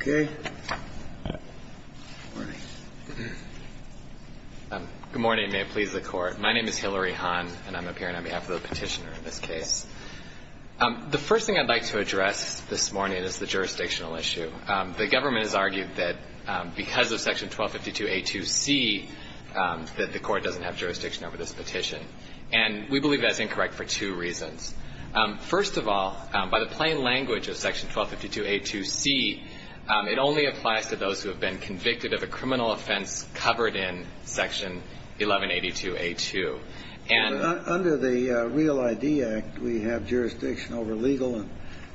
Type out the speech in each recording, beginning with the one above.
Good morning. May it please the Court. My name is Hillary Hahn, and I'm appearing on behalf of the petitioner in this case. The first thing I'd like to address this morning is the jurisdictional issue. The government has argued that because of Section 1252A2C that the Court doesn't have jurisdiction over this petition, and we believe that's incorrect for two reasons. First of all, by the plain language of Section 1252A2C, it only applies to those who have been convicted of a criminal offense covered in Section 1182A2. And under the Real ID Act, we have jurisdiction over legal and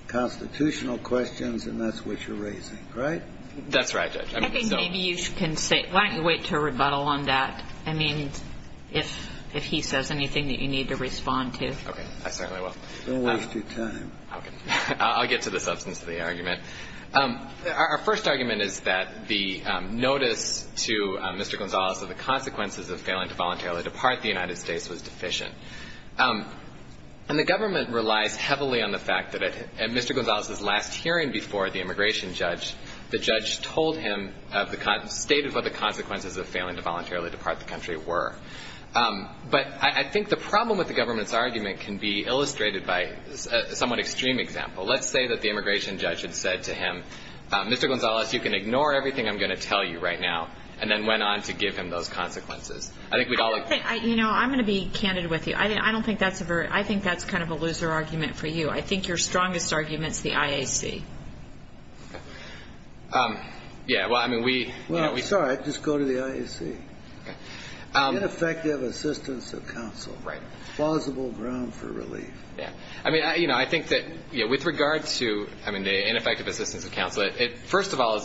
constitutional questions, and that's what you're raising, right? That's right, Judge. I think maybe you can say – why don't you wait to rebuttal on that? I mean, if he says anything that you need to respond to. Okay. I certainly will. Don't waste your time. Okay. I'll get to the substance of the argument. Our first argument is that the notice to Mr. Gonzales of the consequences of failing to voluntarily depart the United States was deficient. And the government relies heavily on the fact that at Mr. Gonzales' last hearing before the immigration judge, the judge told him of the – stated what the consequences of failing to voluntarily depart the country were. But I think the problem with the government's argument can be illustrated by a somewhat extreme example. Let's say that the immigration judge had said to him, Mr. Gonzales, you can ignore everything I'm going to tell you right now, and then went on to give him those consequences. I think we'd all agree. You know, I'm going to be candid with you. I don't think that's a very – I think that's kind of a loser argument for you. I think your strongest argument is the IAC. Yeah. Well, I mean, we – Well, sorry. Just go to the IAC. Okay. Ineffective assistance of counsel. Right. Plausible ground for relief. Yeah. I mean, you know, I think that, you know, with regard to, I mean, the ineffective assistance of counsel, first of all,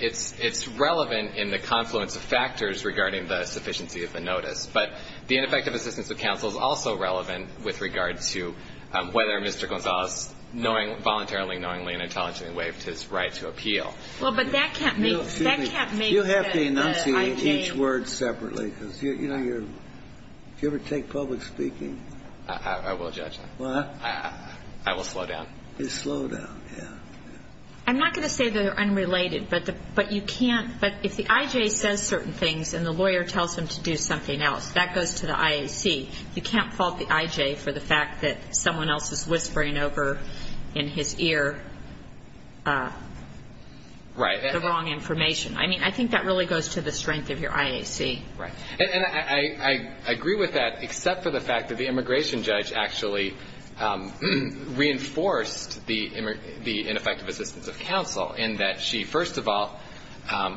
it's relevant in the confluence of factors regarding the sufficiency of the notice. But the ineffective assistance of counsel is also relevant with regard to whether Mr. Gonzales voluntarily, knowingly, and intelligently waived his right to appeal. Well, but that can't make – that can't make the IJ – You'll have to enunciate each word separately because, you know, you're – do you ever take public speaking? I will, Judge. What? I will slow down. You slow down. Yeah. I'm not going to say they're unrelated, but you can't – but if the IJ says certain things and the lawyer tells him to do something else, that goes to the IAC. You can't fault the IJ for the fact that someone else is whispering over in his ear the wrong information. Right. I mean, I think that really goes to the strength of your IAC. Right. And I agree with that, except for the fact that the immigration judge actually reinforced the ineffective assistance of counsel in that she, first of all,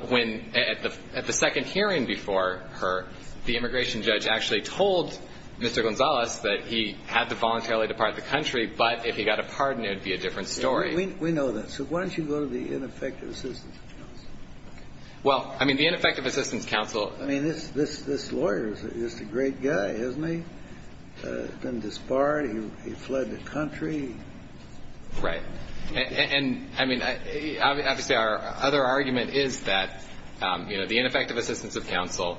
when – at the second hearing before her, the immigration judge actually told Mr. Gonzales that he had to voluntarily depart the country, but if he got a pardon, it would be a different story. We know that. So why don't you go to the ineffective assistance of counsel? Well, I mean, the ineffective assistance of counsel – I mean, this lawyer is just a great guy, isn't he? He's been disbarred. He fled the country. Right. And, I mean, obviously our other argument is that, you know, the ineffective assistance of counsel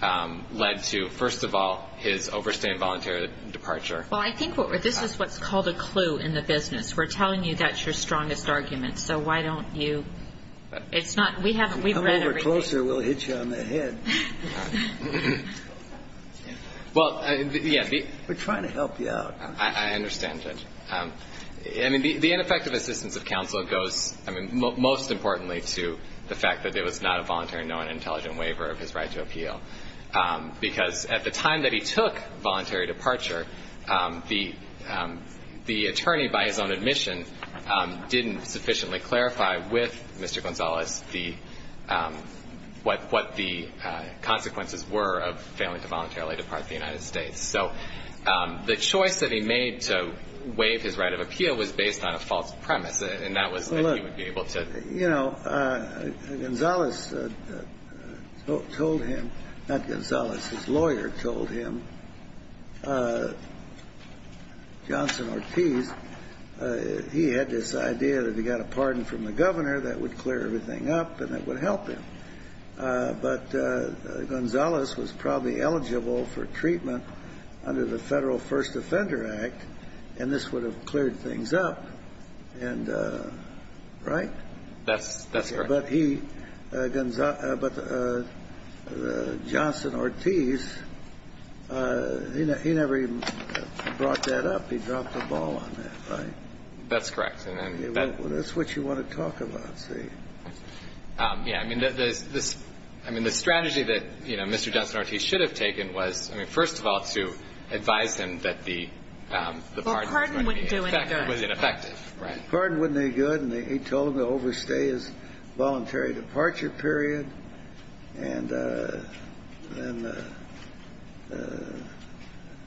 led to, first of all, his overstaying voluntary departure. Well, I think what we're – this is what's called a clue in the business. We're telling you that's your strongest argument, so why don't you – it's not – we haven't – we've read everything. Come over closer, we'll hit you on the head. Well, yes. We're trying to help you out. I understand, Judge. I mean, the ineffective assistance of counsel goes, I mean, most importantly, to the fact that there was not a voluntary and no unintelligent waiver of his right to appeal, because at the time that he took voluntary departure, the attorney, by his own admission, didn't sufficiently clarify with Mr. Gonzalez what the consequences were of failing to voluntarily depart the United States. So the choice that he made to waive his right of appeal was based on a false premise, and that was that he would be able to. You know, Gonzalez told him – not Gonzalez, his lawyer told him, Johnson Ortiz, he had this idea that if he got a pardon from the governor, that would clear everything up and it would help him. But Gonzalez was probably eligible for treatment under the Federal First Offender Act, and this would have cleared things up, right? That's correct. But he – but Johnson Ortiz, he never even brought that up. He dropped the ball on that, right? That's correct. Well, that's what you want to talk about, see. Yeah. I mean, this – I mean, the strategy that, you know, Mr. Johnson Ortiz should have taken was, I mean, first of all, to advise him that the pardon was ineffective. Well, pardon wouldn't do any good. Right. Pardon wouldn't do any good, and he told him to overstay his voluntary departure period. And then –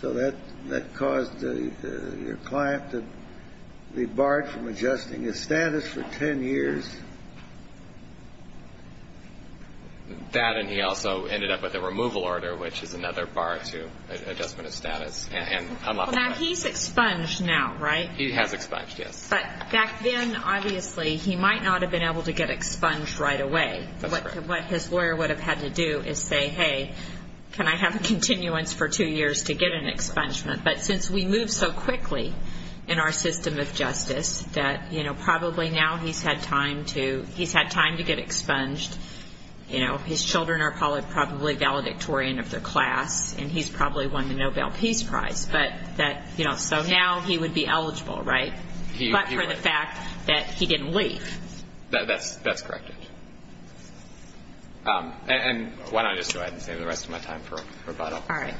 so that caused your client to be barred from adjusting his status for 10 years. That, and he also ended up with a removal order, which is another bar to adjustment of status and unlawful departure. Now, he's expunged now, right? He has expunged, yes. But back then, obviously, he might not have been able to get expunged right away. What his lawyer would have had to do is say, hey, can I have a continuance for two years to get an expungement? But since we moved so quickly in our system of justice that, you know, probably now he's had time to – he's had time to get expunged. You know, his children are probably valedictorian of their class, and he's probably won the Nobel Peace Prize. But that – you know, so now he would be eligible, right? But for the fact that he didn't leave. That's corrected. And why don't I just go ahead and save the rest of my time for rebuttal? All right.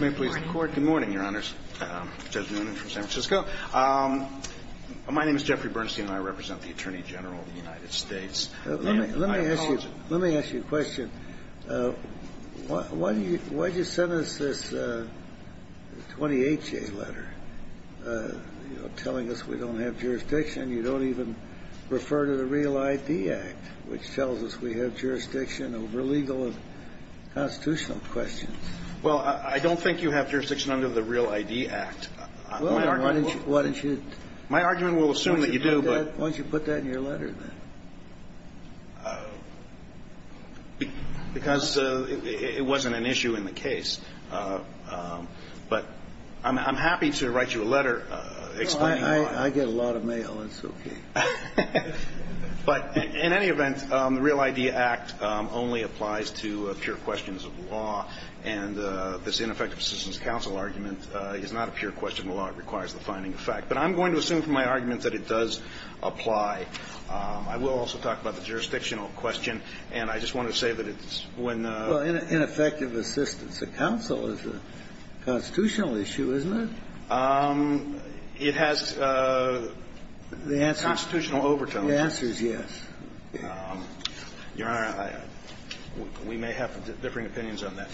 May I please record? Good morning, Your Honors. Judge Noonan from San Francisco. My name is Jeffrey Bernstein, and I represent the Attorney General of the United States. I oppose it. Let me ask you a question. Why did you send us this 28-J letter, you know, telling us we don't have jurisdiction? You don't even refer to the Real ID Act, which tells us we have jurisdiction over legal and constitutional questions. Well, I don't think you have jurisdiction under the Real ID Act. Well, why don't you – My argument will assume that you do, but – Why don't you put that in your letter then? Because it wasn't an issue in the case. But I'm happy to write you a letter explaining why. I get a lot of mail, and so can you. But in any event, the Real ID Act only applies to pure questions of law, and this ineffective assistance counsel argument is not a pure question of law. It requires the finding of fact. But I'm going to assume from my argument that it does apply. I will also talk about the jurisdictional question, and I just want to say that it's when the – Well, ineffective assistance of counsel is a constitutional issue, isn't it? It has constitutional overtones. The answer is yes. Your Honor, we may have differing opinions on that.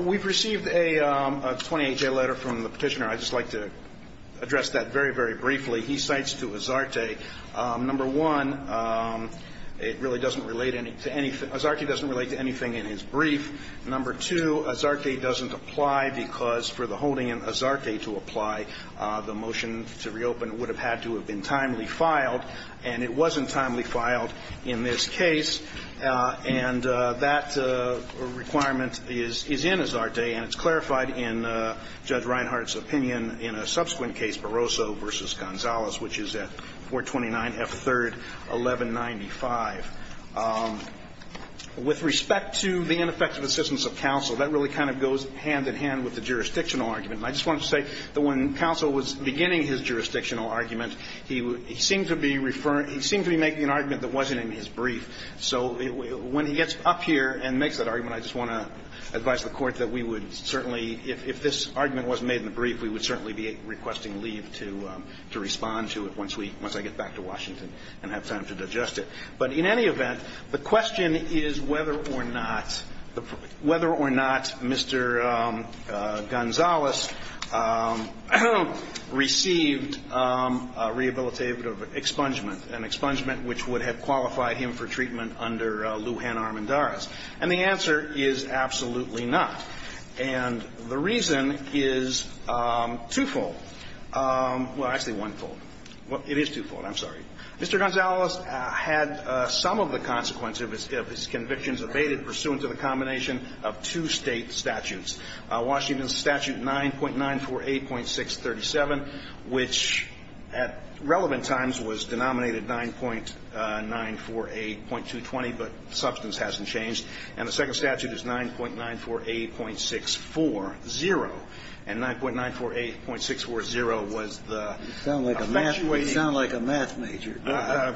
We've received a 28-day letter from the Petitioner. I'd just like to address that very, very briefly. He cites to Azarte, number one, it really doesn't relate to anything – Azarte doesn't relate to anything in his brief. Number two, Azarte doesn't apply because for the holding in Azarte to apply, the motion to reopen would have had to have been timely filed. And it wasn't timely filed in this case. And that requirement is in Azarte, and it's clarified in Judge Reinhardt's opinion in a subsequent case, Barroso v. Gonzales, which is at 429F3-1195. With respect to the ineffective assistance of counsel, that really kind of goes hand in hand with the jurisdictional argument. And I just wanted to say that when counsel was beginning his jurisdictional argument, he seemed to be making an argument that wasn't in his brief. So when he gets up here and makes that argument, I just want to advise the Court that we would certainly, if this argument wasn't made in the brief, we would certainly be requesting leave to respond to it once we – once I get back to Washington and have time to digest it. But in any event, the question is whether or not – whether or not Mr. Gonzales received a rehabilitative expungement, an expungement which would have qualified him for treatment under Lujan Armendariz. And the answer is absolutely not. And the reason is twofold. Well, actually onefold. It is twofold. I'm sorry. Mr. Gonzales had some of the consequences of his convictions abated pursuant to the combination of two State statutes, Washington Statute 9.948.637, which at relevant times was denominated 9.948.220, but substance hasn't changed. And the second statute is 9.948.640, and 9.948.640 was the effectuating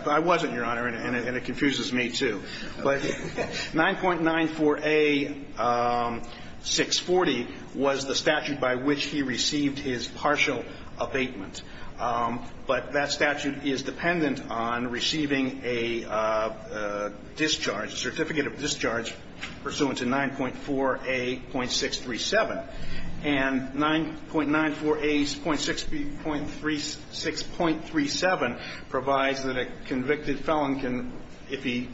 I wasn't, Your Honor, and it confuses me, too. But 9.948.640 was the statute by which he received his partial abatement. But that statute is dependent on receiving a discharge, a certificate of discharge pursuant to 9.4A.637, and 9.948.637 provides that a convicted felon can, if he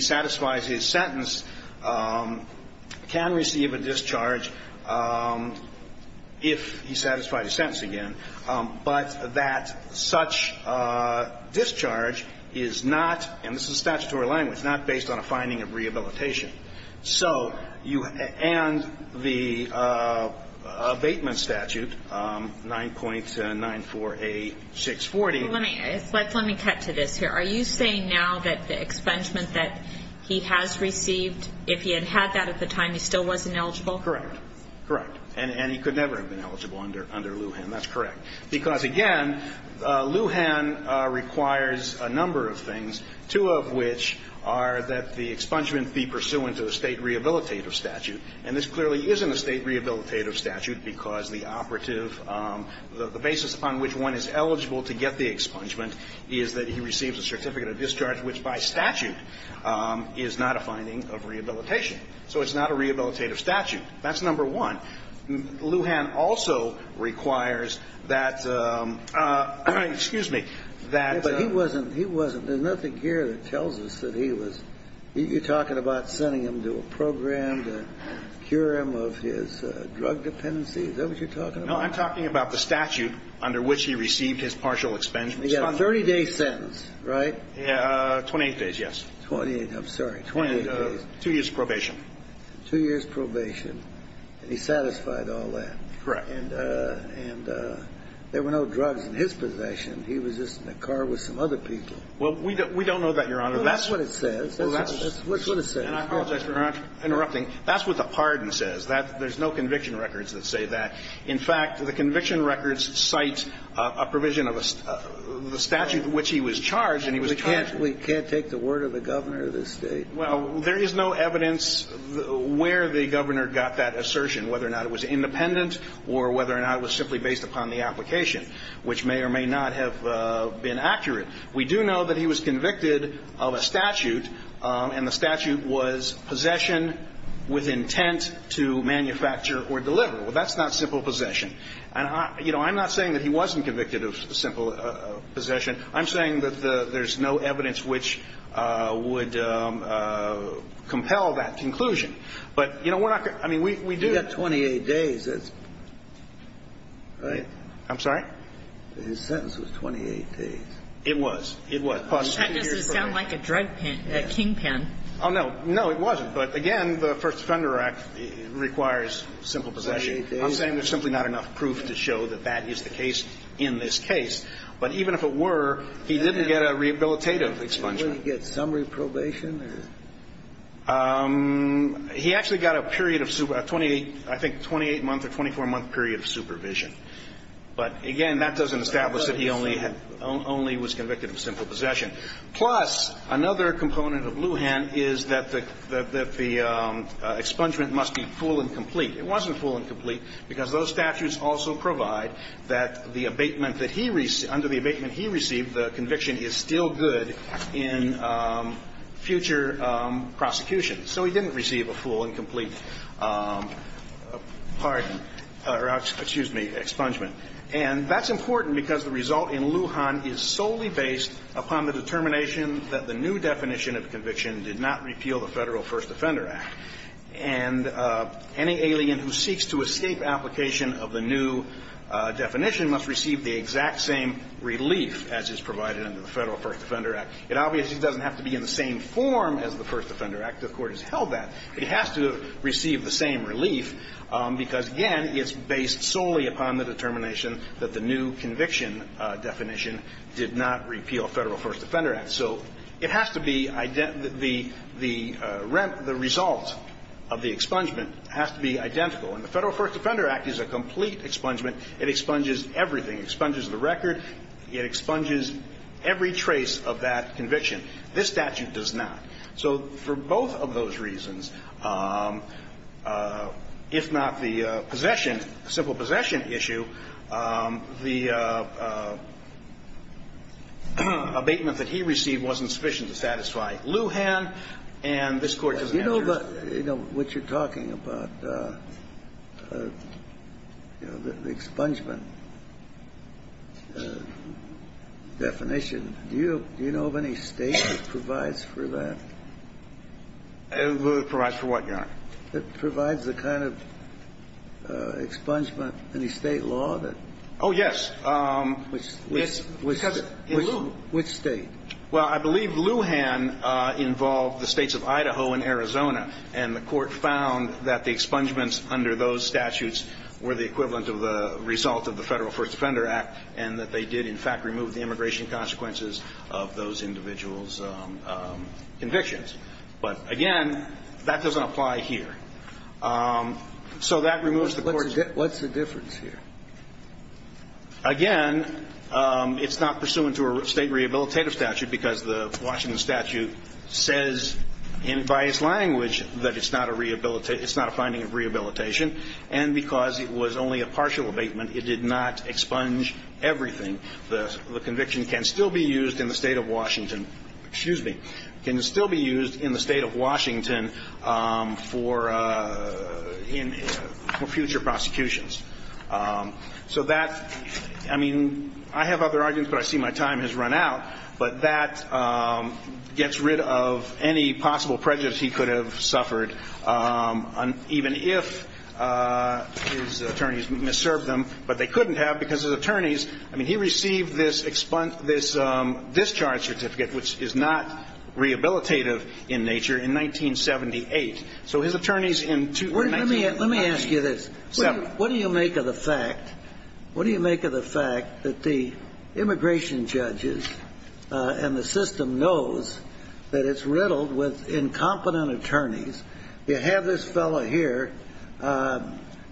satisfies his sentence, can receive a discharge if he satisfied his sentence again, but that such discharge is not, and this is statutory language, not based on a finding of rehabilitation. So you, and the abatement statute, 9.948.640 Let me cut to this here. Are you saying now that the expungement that he has received, if he had had that at the time, he still wasn't eligible? Correct. Correct. And he could never have been eligible under Lujan. That's correct. Because, again, Lujan requires a number of things, two of which are that the expungement be pursuant to a State rehabilitative statute. And this clearly isn't a State rehabilitative statute because the operative the basis upon which one is eligible to get the expungement is that he receives a certificate of discharge, which by statute is not a finding of rehabilitation. So it's not a rehabilitative statute. That's number one. Lujan also requires that, excuse me, that he was, he wasn't, there's nothing here that tells us that he was, you're talking about sending him to a program to cure him of his drug dependency? Is that what you're talking about? No, I'm talking about the statute under which he received his partial expungement statute. Again, a 30-day sentence, right? 28 days, yes. 28. I'm sorry. 28 days. Two years probation. Two years probation. And he satisfied all that. Correct. And there were no drugs in his possession. He was just in the car with some other people. Well, we don't know that, Your Honor. That's what it says. That's what it says. And I apologize for interrupting. That's what the pardon says. There's no conviction records that say that. In fact, the conviction records cite a provision of the statute in which he was charged and he was charged. We can't take the word of the Governor of the State. Well, there is no evidence where the Governor got that assertion, whether or not it was independent or whether or not it was simply based upon the application, which may or may not have been accurate. We do know that he was convicted of a statute, and the statute was possession with intent to manufacture or deliver. Well, that's not simple possession. And, you know, I'm not saying that he wasn't convicted of simple possession. I'm saying that there's no evidence which would compel that conclusion. But, you know, we're not going to – I mean, we do – He got 28 days. That's – right? I'm sorry? His sentence was 28 days. It was. It was. That doesn't sound like a drug pen – a king pen. Oh, no. No, it wasn't. But, again, the First Offender Act requires simple possession. I'm saying there's simply not enough proof to show that that is the case in this case. But even if it were, he didn't get a rehabilitative expungement. Didn't he get summary probation? He actually got a period of – I think a 28-month or 24-month period of supervision. But, again, that doesn't establish that he only was convicted of simple possession. Plus, another component of Lujan is that the expungement must be full and complete. It wasn't full and complete because those statutes also provide that the abatement that he – under the abatement he received, the conviction is still good in future prosecution. So he didn't receive a full and complete pardon – or, excuse me, expungement. And that's important because the result in Lujan is solely based upon the determination that the new definition of conviction did not repeal the Federal First Offender Act. And any alien who seeks to escape application of the new definition must receive the exact same relief as is provided under the Federal First Offender Act. It obviously doesn't have to be in the same form as the First Offender Act. The Court has held that. It has to receive the same relief because, again, it's based solely upon the determination that the new conviction definition did not repeal Federal First Offender Act. So it has to be – the result of the expungement has to be identical. And the Federal First Offender Act is a complete expungement. It expunges everything. It expunges the record. It expunges every trace of that conviction. This statute does not. So for both of those reasons, if not the possession, the simple possession issue, the abatement that he received wasn't sufficient to satisfy Lujan, and this Court doesn't answer it. But, you know, what you're talking about, you know, the expungement definition, do you know of any State that provides for that? Provides for what, Your Honor? That provides the kind of expungement, any State law that – Oh, yes. Which State? Well, I believe Lujan involved the States of Idaho and Arizona. And the Court found that the expungements under those statutes were the equivalent of the result of the Federal First Offender Act and that they did, in fact, remove the immigration consequences of those individuals' convictions. But, again, that doesn't apply here. So that removes the Court's – What's the difference here? Again, it's not pursuant to a State rehabilitative statute because the Washington statute says by its language that it's not a finding of rehabilitation. And because it was only a partial abatement, it did not expunge everything. The conviction can still be used in the State of Washington – excuse me – can still be used in the State of Washington for future prosecutions. So that – I mean, I have other arguments, but I see my time has run out. But that gets rid of any possible prejudice he could have suffered, even if his attorneys misserved them. But they couldn't have because his attorneys – I mean, he received this discharge certificate, which is not rehabilitative in nature, in 1978. So his attorneys in – Let me ask you this. What do you make of the fact – what do you make of the fact that the immigration judges and the system knows that it's riddled with incompetent attorneys? You have this fellow here,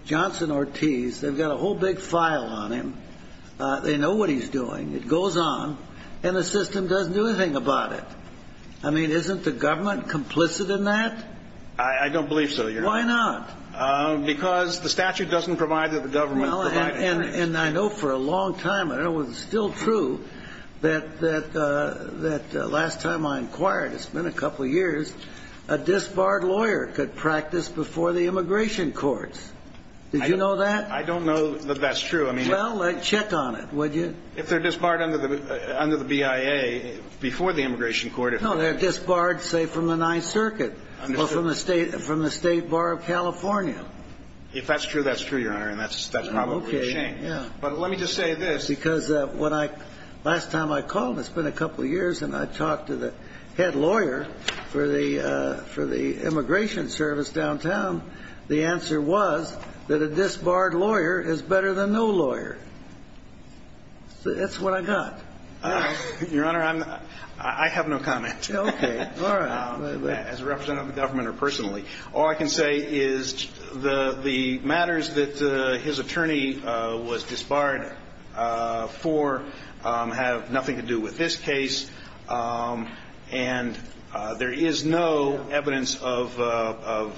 Johnson Ortiz. They've got a whole big file on him. They know what he's doing. It goes on. And the system doesn't do anything about it. I mean, isn't the government complicit in that? I don't believe so, Your Honor. Why not? Because the statute doesn't provide that the government – Well, and I know for a long time, and it was still true, that last time I inquired, it's been a couple of years, a disbarred lawyer could practice before the immigration courts. Did you know that? I don't know that that's true. I mean – Well, check on it, would you? If they're disbarred under the BIA before the immigration court – No, they're disbarred, say, from the Ninth Circuit or from the State Bar of California. If that's true, that's true, Your Honor, and that's probably a shame. Okay, yeah. But let me just say this, because last time I called, it's been a couple of years, and I talked to the head lawyer for the immigration service downtown. The answer was that a disbarred lawyer is better than no lawyer. That's what I got. Your Honor, I have no comment. Okay, all right. As a representative of the government or personally. All I can say is the matters that his attorney was disbarred for have nothing to do with this case. And there is no evidence of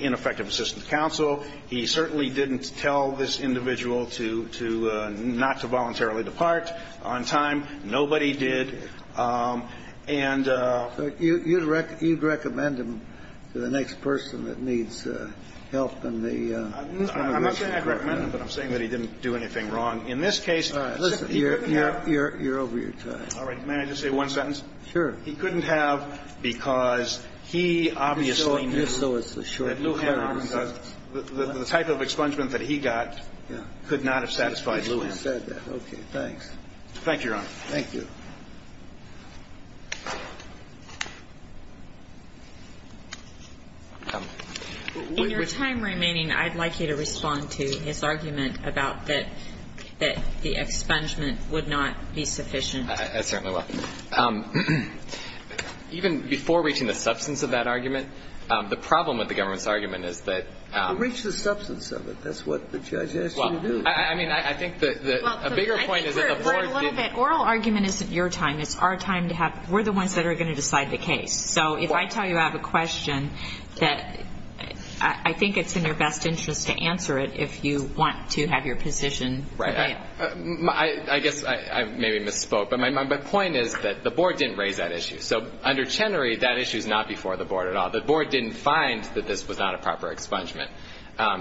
ineffective assistance to counsel. He certainly didn't tell this individual to not to voluntarily depart on time. Nobody did. And. You'd recommend him to the next person that needs help in the immigration court. I'm not saying I'd recommend him, but I'm saying that he didn't do anything wrong. In this case, he couldn't have. You're over your time. All right. May I just say one sentence? Sure. He couldn't have because he obviously knew that Lou Hannon, the type of expungement that he got, could not have satisfied Lou Hannon. Okay, thanks. Thank you, Your Honor. Thank you. In your time remaining, I'd like you to respond to his argument about that the expungement would not be sufficient. I certainly will. Even before reaching the substance of that argument, the problem with the government's argument is that. You reached the substance of it. That's what the judge asked you to do. A bigger point is that the board didn't. Oral argument isn't your time. It's our time to have. We're the ones that are going to decide the case. So if I tell you I have a question that I think it's in your best interest to answer it if you want to have your position. Right. I guess I maybe misspoke. But my point is that the board didn't raise that issue. So under Chenery, that issue is not before the board at all. The board didn't find that this was not a proper expungement.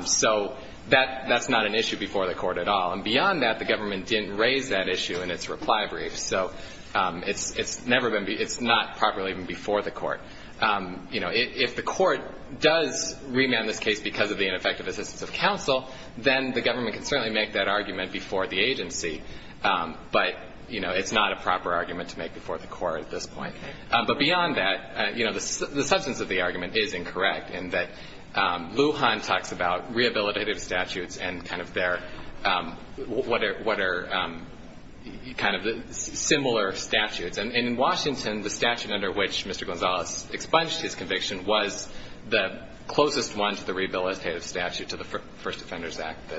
So that's not an issue before the court at all. And beyond that, the government didn't raise that issue in its reply brief. So it's not properly even before the court. If the court does remand this case because of the ineffective assistance of counsel, then the government can certainly make that argument before the agency. But it's not a proper argument to make before the court at this point. But beyond that, the substance of the argument is incorrect in that Lujan talks about rehabilitative statutes and kind of their what are kind of similar statutes. And in Washington, the statute under which Mr. Gonzalez expunged his conviction was the closest one to the rehabilitative statute to the First Defenders Act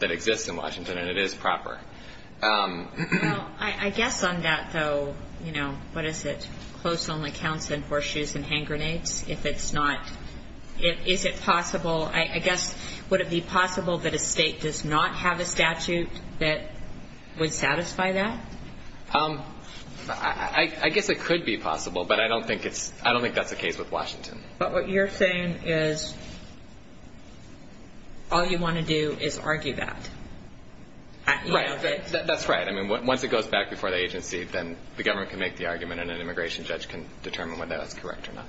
that exists in Washington, and it is proper. Well, I guess on that, though, you know, what is it? Close only counts in horseshoes and hand grenades. Is it possible, I guess, would it be possible that a state does not have a statute that would satisfy that? I guess it could be possible, but I don't think that's the case with Washington. But what you're saying is all you want to do is argue that. Right. That's right. I mean, once it goes back before the agency, then the government can make the argument and an immigration judge can determine whether that's correct or not.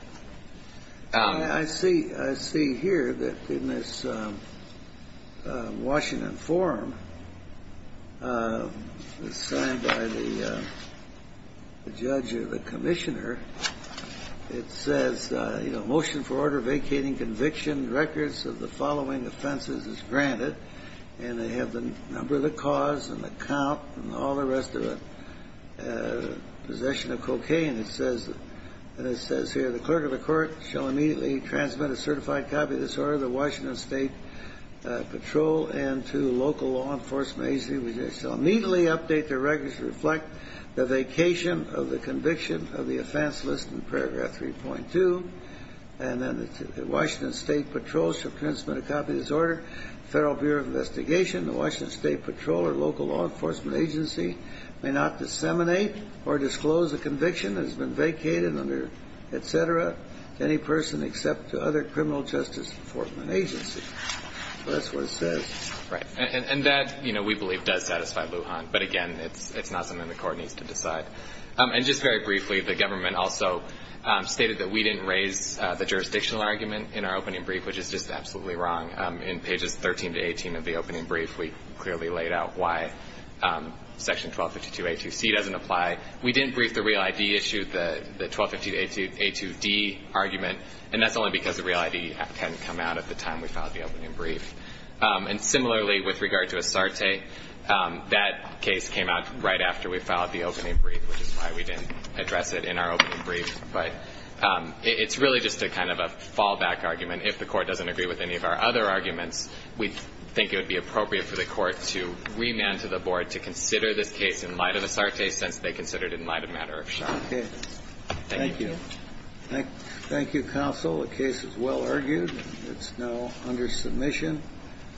I see here that in this Washington forum, signed by the judge or the commissioner, it says, you know, motion for order vacating conviction, records of the following offenses as granted, and they have the number of the cause and the count and all the rest of it, possession of cocaine, and it says here, the clerk of the court shall immediately transmit a certified copy of this order to the Washington State Patrol and to local law enforcement agency, which shall immediately update their records to reflect the vacation of the conviction of the offense listed in paragraph 3.2. And then the Washington State Patrol shall transmit a copy of this order. Federal Bureau of Investigation, the Washington State Patrol or local law enforcement agency may not disseminate or disclose a conviction that has been vacated, et cetera, to any person except to other criminal justice enforcement agencies. That's what it says. Right. And that, you know, we believe does satisfy Lujan. But, again, it's not something the court needs to decide. And just very briefly, the government also stated that we didn't raise the jurisdictional argument in our opening brief, which is just absolutely wrong. In pages 13 to 18 of the opening brief, we clearly laid out why section 1252A2C doesn't apply. We didn't brief the real ID issue, the 1252A2D argument, and that's only because the real ID hadn't come out at the time we filed the opening brief. And, similarly, with regard to Asarte, that case came out right after we filed the opening brief, which is why we didn't address it in our opening brief. But it's really just a kind of a fallback argument. And if the court doesn't agree with any of our other arguments, we think it would be appropriate for the court to remand to the board to consider this case in light of Asarte, since they considered it in light of Matter of Shock. Okay. Thank you. Thank you, counsel. The case is well argued. It's now under submission.